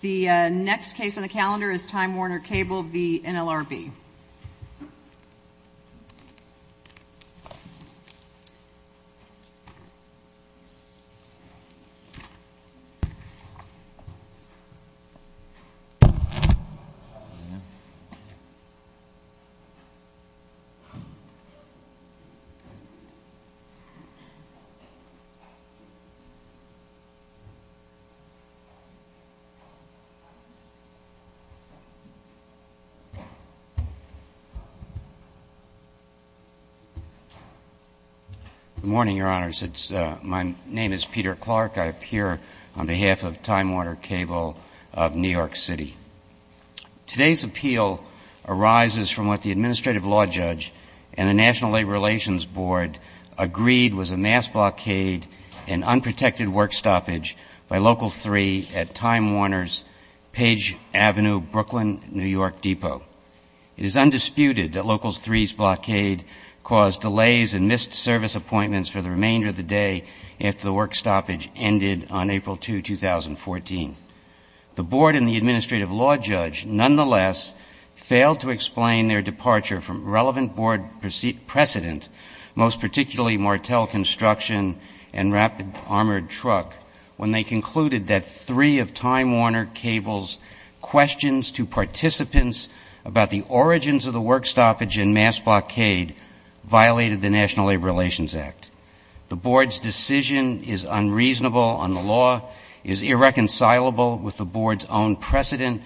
The next case on the calendar is Time Warner Cable v. NLRB. Good morning, Your Honors. My name is Peter Clark. I appear on behalf of Time Warner Cable of New York City. Today's appeal arises from what the Administrative Law Judge and the National Labor Relations Board agreed was a mass blockade and unprotected work stoppage by Local 3 at Time Warner's Page Avenue, Brooklyn, New York Depot. It is undisputed that Local 3's blockade caused delays and missed service appointments for the remainder of the day after the work stoppage ended on April 2, 2014. The Board and the Administrative Law Judge, nonetheless, failed to explain their departure from relevant Board precedent, most particularly Martel Construction and Rapid Armored Truck, when they concluded that three of Time Warner Cable's questions to participants about the origins of the work stoppage and mass blockade violated the National Labor Relations Act. The Board's decision is unreasonable on the law, is irreconcilable with the Board's own prematurely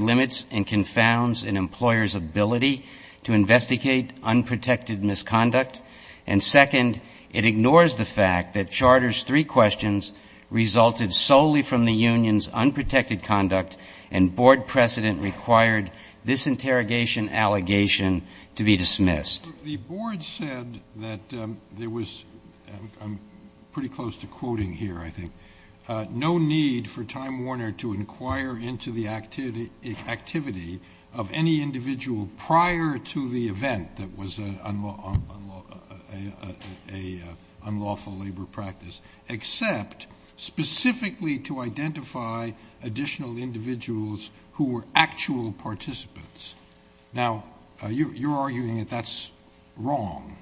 limits and confounds an employer's ability to investigate unprotected misconduct, and second, it ignores the fact that Charter's three questions resulted solely from the union's unprotected conduct and Board precedent required this interrogation allegation to be dismissed. The Board said that there was, I'm pretty close to quoting here, I think, no need for activity of any individual prior to the event that was an unlawful labor practice, except specifically to identify additional individuals who were actual participants. Now, you're arguing that that's wrong.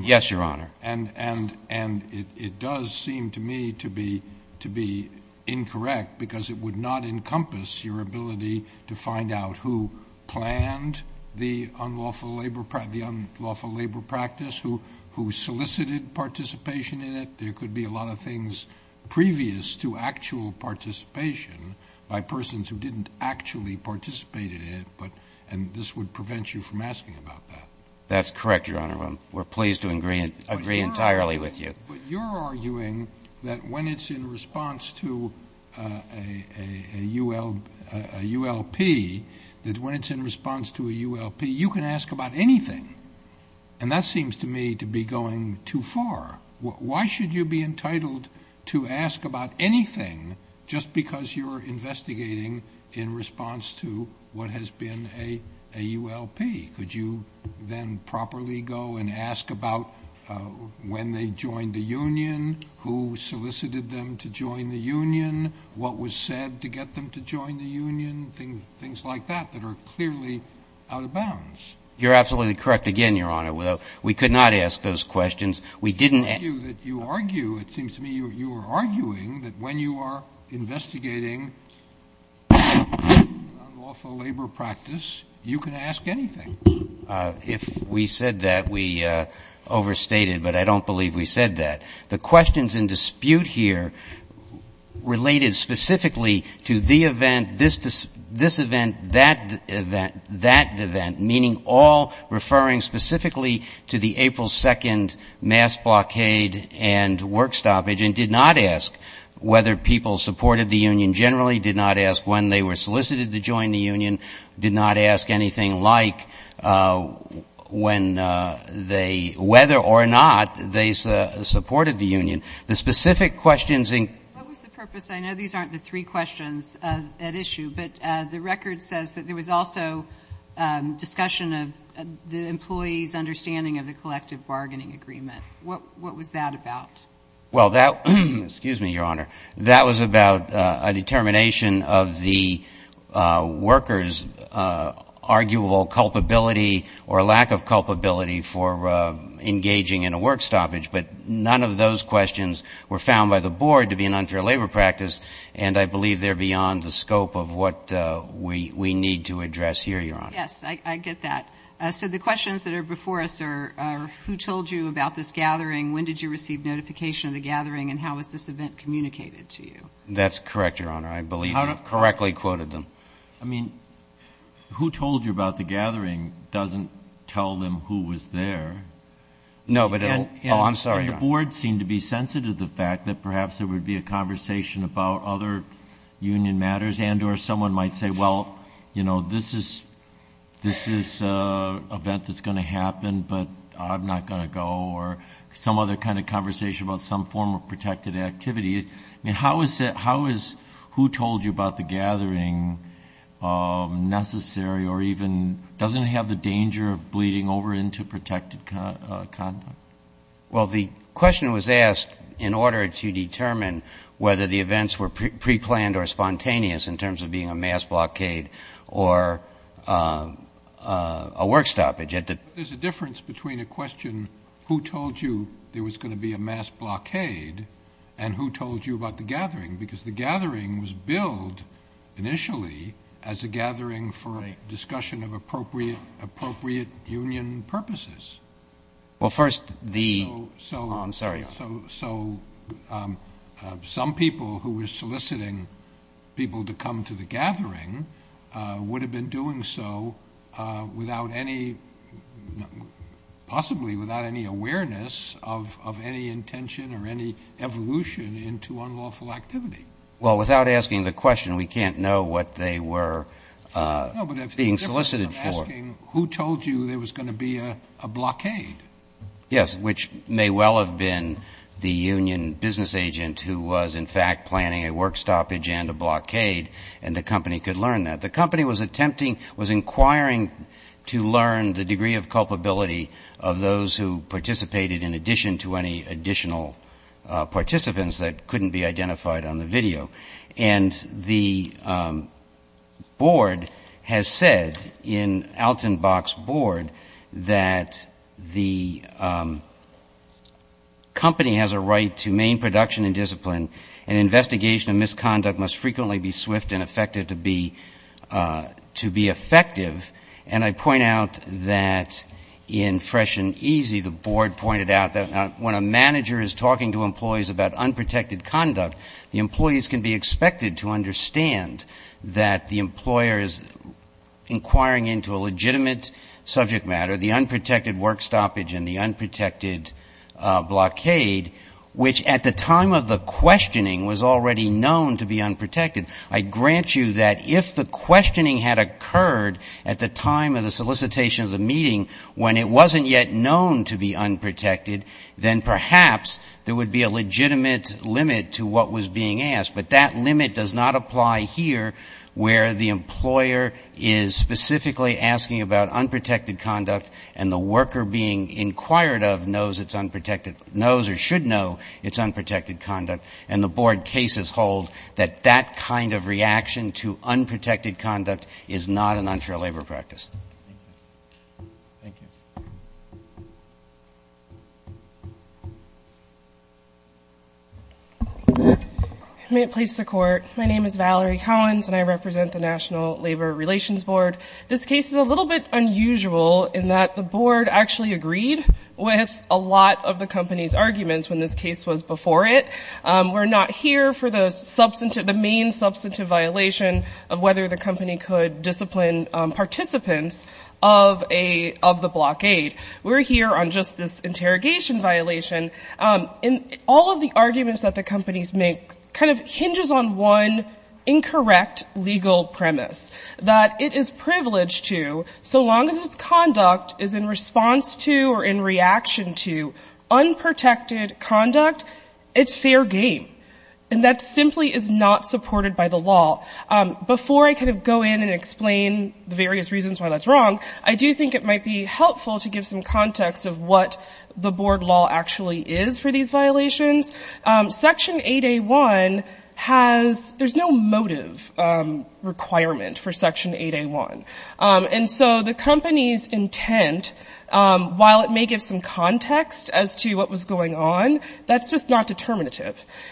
Yes, Your Honor. And it does seem to me to be incorrect because it would not encompass your ability to find out who planned the unlawful labor practice, the unlawful labor practice, who solicited participation in it. There could be a lot of things previous to actual participation by persons who didn't actually participate in it, and this would prevent you from asking about that. That's correct, Your Honor. We're pleased to agree entirely with you. But you're arguing that when it's in response to a ULP, that when it's in response to a ULP, you can ask about anything, and that seems to me to be going too far. Why should you be entitled to ask about anything just because you're investigating in response to what has been a ULP? Could you then properly go and ask about when they joined the union, who solicited them to join the union, what was said to get them to join the union, things like that that are clearly out of bounds? You're absolutely correct again, Your Honor. We could not ask those questions. We didn't ask those questions. You argue, it seems to me you are arguing that when you are investigating unlawful labor practice, you can ask anything. If we said that, we overstated, but I don't believe we said that. The questions in dispute here related specifically to the event, this event, that event, that event, meaning all referring specifically to the April 2nd mass blockade and work stoppage, and did not ask whether people supported the union generally, did not ask when they were solicited to join the union, did not ask anything like whether or not they supported the union. The specific questions in- What was the purpose? I know these aren't the three questions at issue, but the record says that there was also discussion of the employee's understanding of the collective bargaining agreement. What was that about? Well, that, excuse me, Your Honor, that was about a determination of the workers' arguable culpability or lack of culpability for engaging in a work stoppage, but none of those questions were found by the board to be an unfair labor practice, and I believe they're beyond the scope of what we need to address here, Your Honor. Yes, I get that. So the questions that are before us are who told you about this gathering? When did you receive notification of the gathering, and how was this event communicated to you? That's correct, Your Honor. I believe you correctly quoted them. I mean, who told you about the gathering doesn't tell them who was there. No, but it'll- Oh, I'm sorry, Your Honor. The board seemed to be sensitive to the fact that perhaps there would be a conversation about other union matters, and or someone might say, well, you know, this is an event that's going to happen, but I'm not going to go, or some other kind of conversation about some form of protected activity. I mean, how is it- how is- who told you about the gathering necessary or even- doesn't it have the danger of bleeding over into protected conduct? Well, the question was asked in order to determine whether the events were preplanned or spontaneous in terms of being a mass blockade or a work stoppage. There's a difference between a question, who told you there was going to be a mass blockade, and who told you about the gathering, because the gathering was billed initially as a gathering for discussion of appropriate union purposes. Well, first, the- Oh, I'm sorry. So some people who were soliciting people to come to the gathering would have been doing so without any- possibly without any awareness of any intention or any evolution into unlawful activity. Well, without asking the question, we can't know what they were being solicited for. No, but if it's different than asking, who told you there was going to be a blockade? Yes, which may well have been the union business agent who was, in fact, planning a work stoppage and a blockade, and the company could learn that. The company was attempting- was inquiring to learn the degree of culpability of those who participated in addition to any additional participants that couldn't be identified on the video. And the board has said, in Altenbach's board, that the company has a right to main production and discipline, and investigation of misconduct must frequently be swift and effective to be effective. And I point out that in Fresh and Easy, the board pointed out that when a manager is talking to employees about unprotected conduct, the employees can be expected to understand that the employer is inquiring into a legitimate subject matter, the unprotected work stoppage and the unprotected blockade, which at the time of the questioning was already known to be unprotected. I grant you that if the questioning had occurred at the time of the solicitation of the meeting, when it wasn't yet known to be unprotected, then perhaps there would be a legitimate limit to what was being asked. But that limit does not apply here, where the employer is specifically asking about unprotected conduct, and the worker being inquired of knows it's unprotected- knows or should know it's unprotected conduct, and the board cases hold that that kind of reaction to unprotected conduct is not an unfair labor practice. Thank you. May it please the court, my name is Valerie Collins and I represent the National Labor Relations Board. This case is a little bit unusual in that the board actually agreed with a lot of the company's arguments when this case was before it. We're not here for the substantive- the main substantive violation of whether the company could discipline participants of a- of the blockade. We're here on just this interrogation violation, and all of the arguments that the companies make kind of hinges on one incorrect legal premise, that it is privileged to, so long as its conduct is in response to or in reaction to unprotected conduct, it's fair game. And that simply is not supported by the law.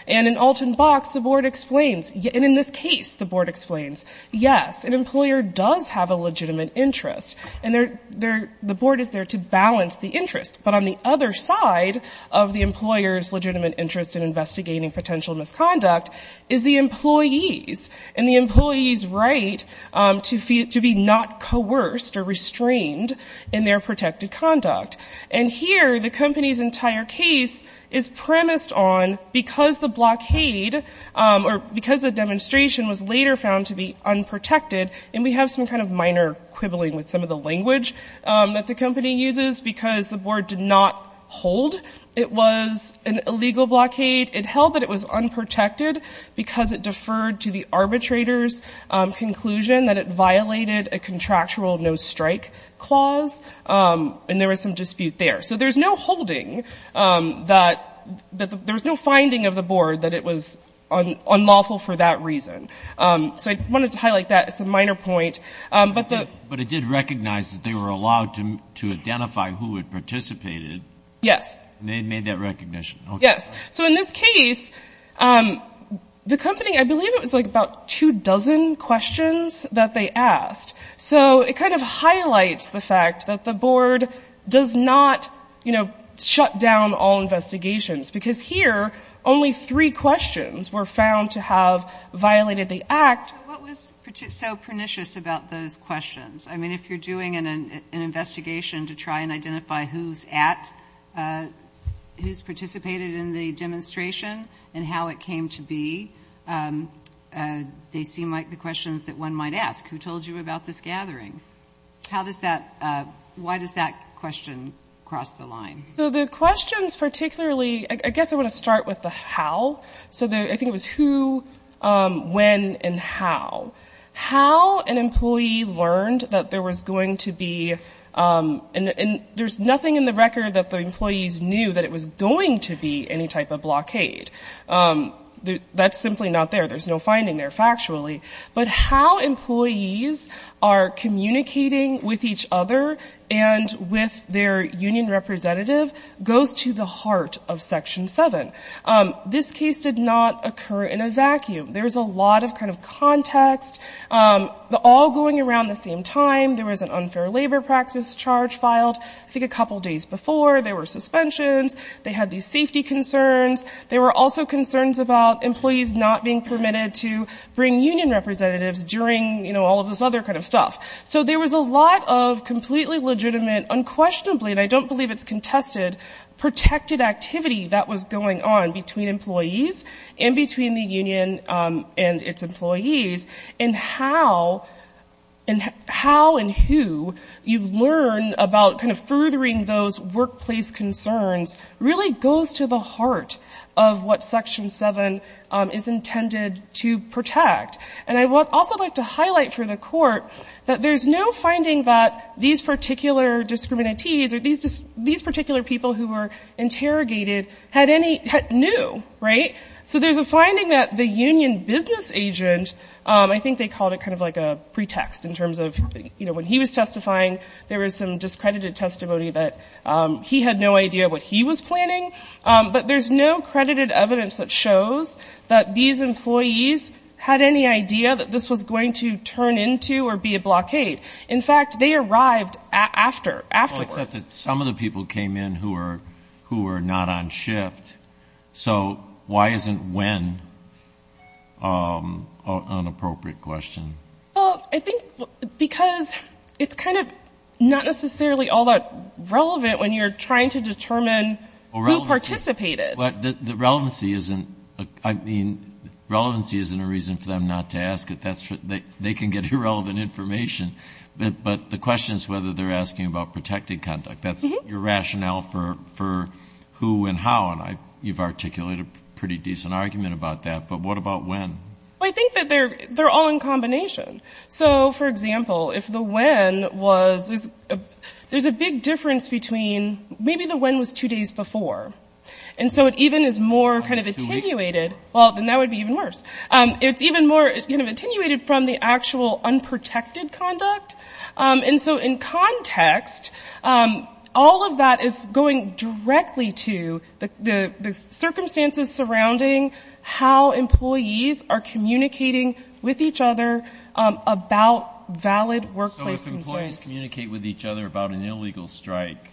And in Alton Box, the board explains, and in this case, the board explains, yes, an employer does have a legitimate interest, and the board is there to balance the interest. But on the other side of the employer's legitimate interest in investigating potential misconduct is the employee's, and the employee's right to be not coerced or restrained in their protected conduct. And here, the company's entire case is premised on, because the blockade, or because the demonstration was later found to be unprotected, and we have some kind of minor quibbling with some of the language that the company uses, because the board did not hold it was an illegal blockade. It held that it was unprotected because it deferred to the arbitrator's conclusion that it violated a contractual no-strike clause. And there was some dispute there, so there's no holding that, there's no finding of the board that it was unlawful for that reason. So I wanted to highlight that, it's a minor point. Yes. So in this case, the company, I believe it was like about two dozen questions that they asked. So it kind of highlights the fact that the board does not, you know, shut down all investigations, because here, only three questions were found to have violated the act. So what was so pernicious about those questions? I mean, if you're doing an investigation to try and identify who's at, who's participated in the demonstration, and how it came to be, they seem like the questions that one might ask. Who told you about this gathering? How does that, why does that question cross the line? So the questions particularly, I guess I want to start with the how. So I think it was who, when, and how. How an employee learned that there was going to be, and there's nothing in the record that the employees knew that it was going to be any type of blockade. That's simply not there, there's no finding there, factually. So the fact that there was a union representative goes to the heart of Section 7. This case did not occur in a vacuum. There was a lot of kind of context. All going around the same time, there was an unfair labor practice charge filed. I think a couple days before, there were suspensions, they had these safety concerns, there were also concerns about employees not being permitted to bring union representatives during, you know, all of this other kind of stuff. So there was a lot of completely legitimate, unquestionably, and I don't believe it's contested, protected activity that was going on between employees, and between the union and its employees, and how, and how and who, you learn about kind of furthering those workplace concerns really goes to the heart of what Section 7 is intended to protect. And I would also like to highlight for the court that there's no finding that these particular discriminatees, or these particular people who were interrogated had any, knew, right? So there's a finding that the union business agent, I think they called it kind of like a pretext in terms of, you know, when he was testifying, there was some discredited testimony that he had no idea what he was planning. But there's no credited evidence that shows that these employees had any idea that this was going to turn into or be a blockade. In fact, they arrived after, afterwards. I thought that some of the people came in who were not on shift. So why isn't when an appropriate question? Well, I think because it's kind of not necessarily all that relevant when you're trying to determine who participated. But the relevancy isn't, I mean, relevancy isn't a reason for them not to ask it. They can get irrelevant information. But the question is whether they're asking about protected conduct. That's your rationale for who and how, and you've articulated a pretty decent argument about that. But what about when? Well, I think that they're all in combination. So, for example, if the when was, there's a big difference between, maybe the when was two days before. And so it even is more kind of attenuated. Well, then that would be even worse. It's even more kind of attenuated from the actual unprotected conduct. And so in context, all of that is going directly to the circumstances surrounding how employees are communicating with each other about valid workplace concerns. They communicate with each other about an illegal strike.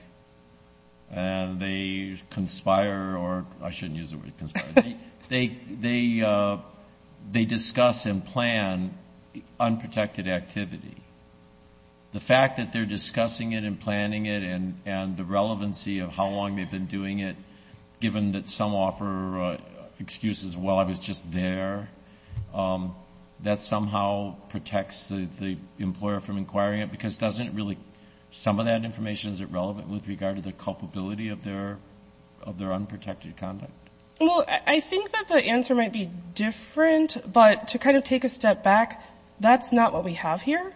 And they conspire, or I shouldn't use the word conspire. They discuss and plan unprotected activity. The fact that they're discussing it and planning it and the relevancy of how long they've been doing it, given that some offer excuses, well, I was just there. That somehow protects the employer from inquiring it because doesn't really, some of that information isn't relevant with regard to the culpability of their unprotected conduct. Well, I think that the answer might be different. But to kind of take a step back, that's not what we have here.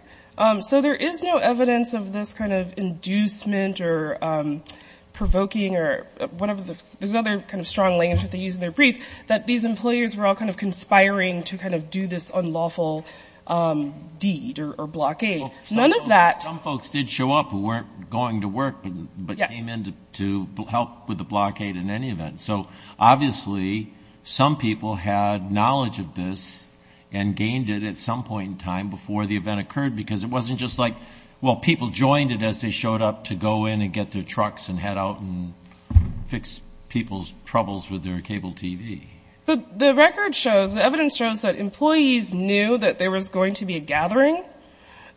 So there is no evidence of this kind of inducement or provoking or whatever. There's other kind of strong language that they use in their brief that these employers were all kind of conspiring to kind of do this unlawful deed or blockade. None of that. But some folks did show up who weren't going to work but came in to help with the blockade in any event. So obviously some people had knowledge of this and gained it at some point in time before the event occurred because it wasn't just like, well, people joined it as they showed up to go in and get their trucks and head out and fix people's troubles with their cable TV. So the record shows, the evidence shows that employees knew that there was going to be a gathering.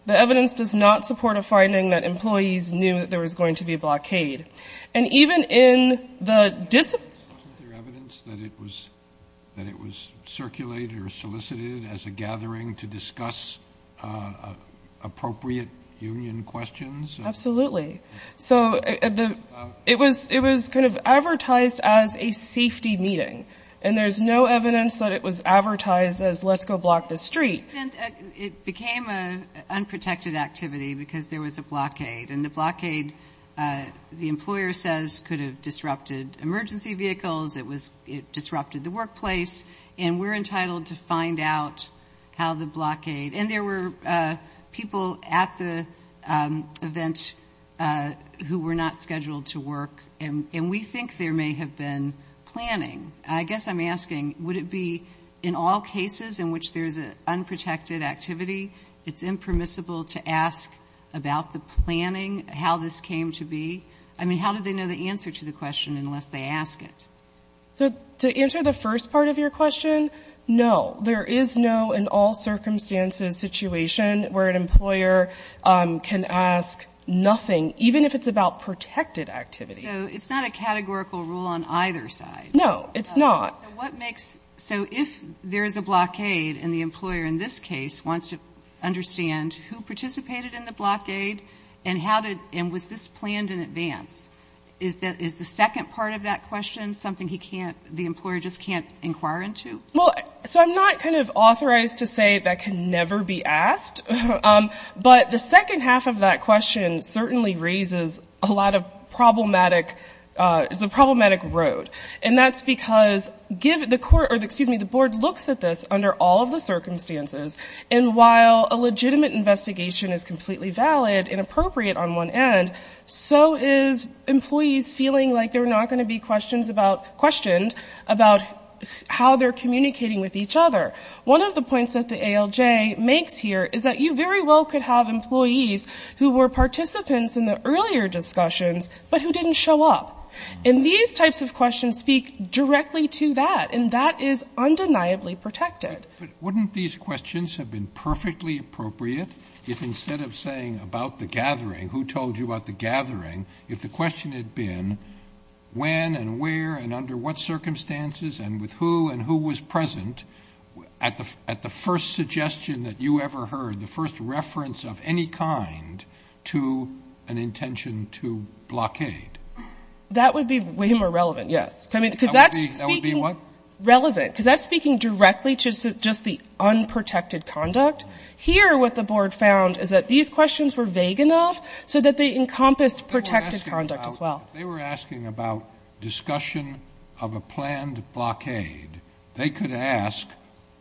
The evidence does not support a finding that employees knew that there was going to be a blockade. And even in the discipline... It was kind of advertised as a safety meeting. And there's no evidence that it was advertised as let's go block the street. It became an unprotected activity because there was a blockade. And the blockade, the employer says, could have disrupted emergency vehicles. It disrupted the workplace. And we're entitled to find out how the blockade... And there were people at the event who were not scheduled to work. And we think there may have been planning. I guess I'm asking, would it be in all cases in which there's an unprotected activity, it's impermissible to ask about the planning, how this came to be? I mean, how do they know the answer to the question unless they ask it? So to answer the first part of your question, no. There is no in all circumstances situation where an employer can ask nothing, even if it's about protected activity. So it's not a categorical rule on either side? No, it's not. So if there's a blockade and the employer in this case wants to understand who participated in the blockade and was this planned in advance, is the second part of that question something the employer just can't inquire into? Well, so I'm not kind of authorized to say that can never be asked. But the second half of that question certainly raises a lot of problematic... it's a problematic road. And that's because the board looks at this under all of the circumstances. And while a legitimate investigation is completely valid and appropriate on one end, so is employees feeling like they're not going to be questioned about how they're communicating with each other. One of the points that the ALJ makes here is that you very well could have employees who were participants in the earlier discussions, but who didn't show up. And these types of questions speak directly to that. And that is undeniably protected. But wouldn't these questions have been perfectly appropriate if instead of saying about the gathering, who told you about the gathering, if the question had been when and where and under what circumstances and with who and who was present at the first suggestion that you ever heard, the first reference of any kind to an intention to blockade? That would be way more relevant, yes. That would be what? Relevant. Because that's speaking directly to just the unprotected conduct. Here what the board found is that these questions were vague enough so that they encompassed protected conduct as well. But if they were asking about discussion of a planned blockade, they could ask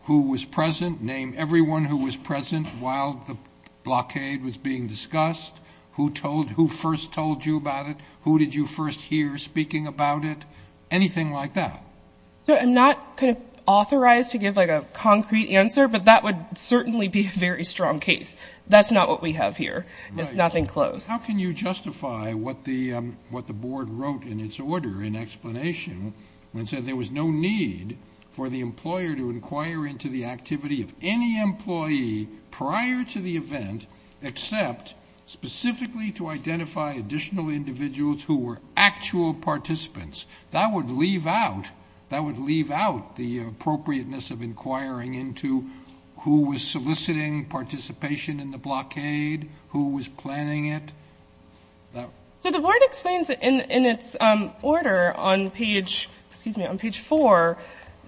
who was present, name everyone who was present while the blockade was being discussed, who first told you about it, who did you first hear speaking about it, anything like that. I'm not authorized to give a concrete answer, but that would certainly be a very strong case. That's not what we have here. There's nothing close. How can you justify what the board wrote in its order in explanation when it said there was no need for the employer to inquire into the activity of any employee prior to the event except specifically to identify additional individuals who were actual participants? That would leave out, that would leave out the appropriateness of inquiring into who was soliciting participation in the blockade, who was planning it. So the board explains in its order on page, excuse me, on page 4,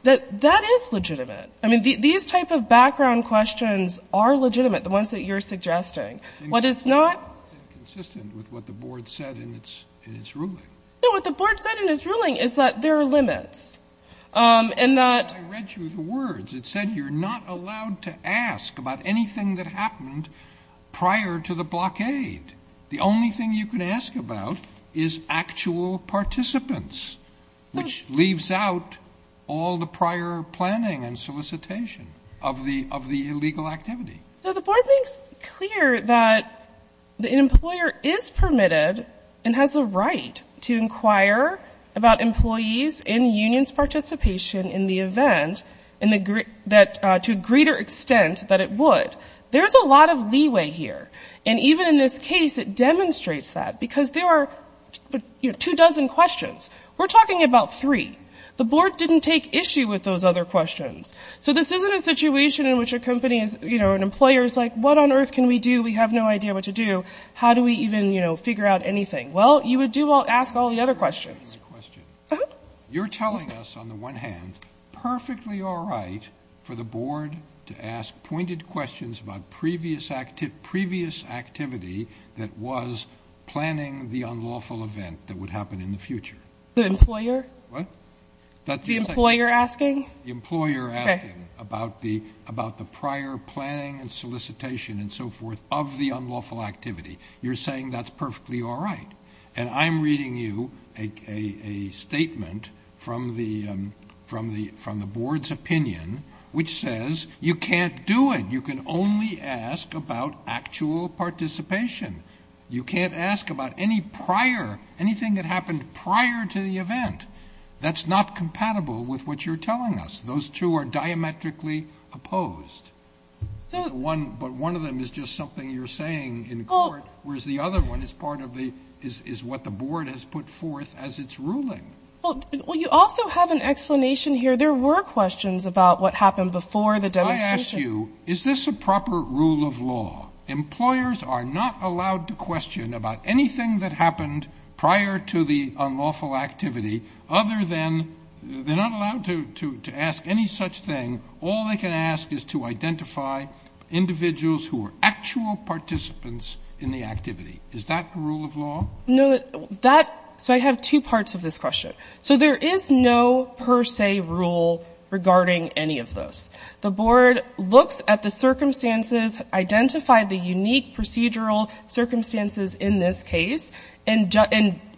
that that is legitimate. I mean, these type of background questions are legitimate, the ones that you're suggesting. What is not. It's inconsistent with what the board said in its ruling. No, what the board said in its ruling is that there are limits and that. I read you the words. It said you're not allowed to ask about anything that happened prior to the blockade. The only thing you can ask about is actual participants, which leaves out all the prior planning and solicitation of the of the illegal activity. So the board makes clear that the employer is permitted and has the right to inquire about employees and unions participation in the event and that to a greater extent that it would. There's a lot of leeway here. And even in this case, it demonstrates that because there are two dozen questions. We're talking about three. The board didn't take issue with those other questions. So this isn't a situation in which a company is, you know, an employer is like, what on earth can we do? We have no idea what to do. How do we even, you know, figure out anything? Well, you would do well. Ask all the other questions. You're telling us on the one hand, perfectly all right for the board to ask pointed questions about previous active previous activity that was planning the unlawful event that would happen in the future. The employer, the employer asking the employer about the about the prior planning and solicitation and so forth of the unlawful activity. You're saying that's perfectly all right. And I'm reading you a statement from the from the from the board's opinion, which says you can't do it. You can only ask about actual participation. You can't ask about any prior anything that happened prior to the event. That's not compatible with what you're telling us. Those two are diametrically opposed. So one but one of them is just something you're saying in court, whereas the other one is part of the is what the board has put forth as its ruling. Well, you also have an explanation here. There were questions about what happened before the day. I asked you, is this a proper rule of law? Employers are not allowed to question about anything that happened prior to the unlawful activity other than they're not allowed to ask any such thing. All they can ask is to identify individuals who are actual participants in the activity. Is that rule of law? No, that. So I have two parts of this question. So there is no per se rule regarding any of those. The board looks at the circumstances, identify the unique procedural circumstances in this case, and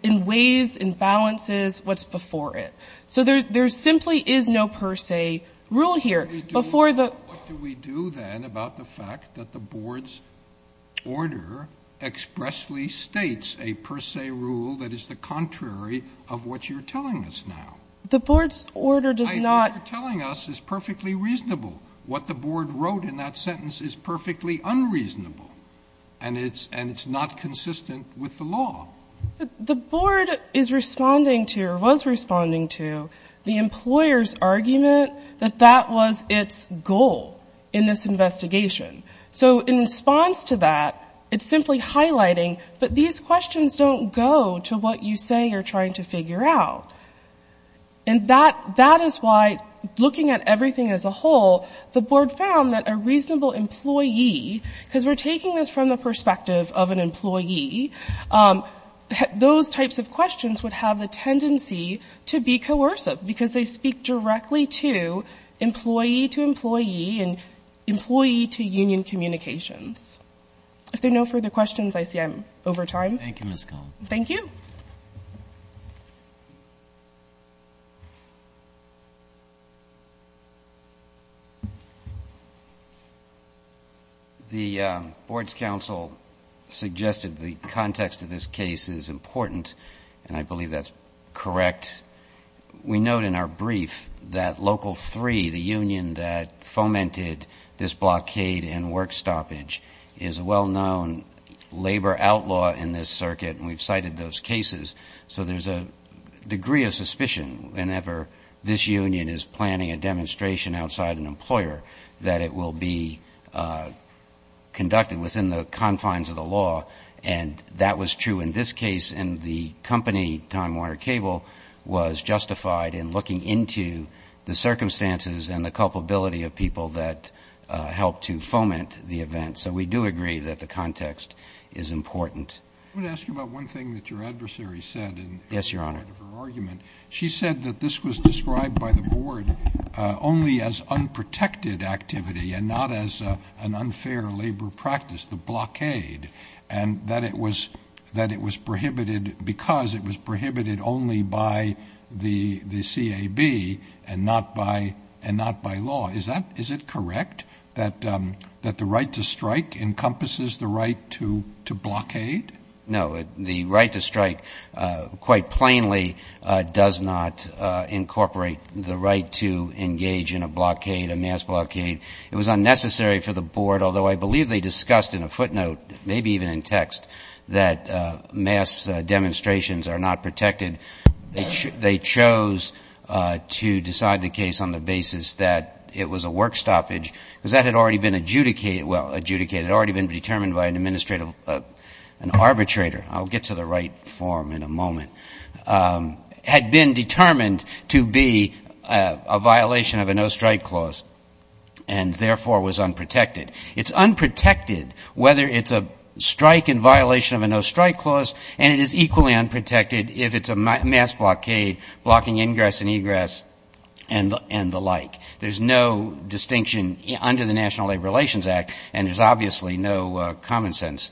in ways and balances what's before it. So there simply is no per se rule here. Before the ---- What do we do then about the fact that the board's order expressly states a per se rule that is the contrary of what you're telling us now? The board's order does not ---- What you're telling us is perfectly reasonable. What the board wrote in that sentence is perfectly unreasonable, and it's not consistent with the law. The board is responding to or was responding to the employer's argument that that was its goal in this investigation. So in response to that, it's simply highlighting that these questions don't go to what you say you're trying to figure out. And that is why looking at everything as a whole, the board found that a reasonable employee, because we're taking this from the perspective of an employee, those types of questions would have the tendency to be coercive because they speak directly to employee to employee and employee to union communications. If there are no further questions, I see I'm over time. Thank you, Ms. Cohen. Thank you. Thank you. The board's counsel suggested the context of this case is important, and I believe that's correct. We note in our brief that Local 3, the union that fomented this blockade and work stoppage, is a well-known labor outlaw in this circuit, and we've cited those cases. So there's a degree of suspicion whenever this union is planning a demonstration outside an employer that it will be conducted within the confines of the law. And that was true in this case, and the company, Time Warner Cable, was justified in looking into the circumstances and the culpability of people that helped to foment the event. So we do agree that the context is important. I want to ask you about one thing that your adversary said. Yes, Your Honor. She said that this was described by the board only as unprotected activity and not as an unfair labor practice, the blockade, and that it was prohibited because it was prohibited only by the CAB and not by law. Is it correct that the right to strike encompasses the right to blockade? No. The right to strike quite plainly does not incorporate the right to engage in a blockade, a mass blockade. It was unnecessary for the board, although I believe they discussed in a footnote, maybe even in text, that mass demonstrations are not protected. They chose to decide the case on the basis that it was a work stoppage, because that had already been adjudicated, well, adjudicated. It had already been determined by an administrator, an arbitrator. I'll get to the right form in a moment. It had been determined to be a violation of a no-strike clause and, therefore, was unprotected. It's unprotected whether it's a strike in violation of a no-strike clause, and it is equally unprotected if it's a mass blockade blocking ingress and egress and the like. There's no distinction under the National Labor Relations Act, and there's obviously no common-sense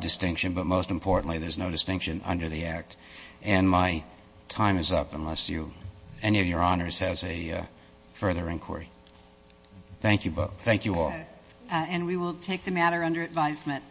distinction, but, most importantly, there's no distinction under the Act. And my time is up unless any of your honors has a further inquiry. Thank you both. Thank you all. And we will take the matter under advisement.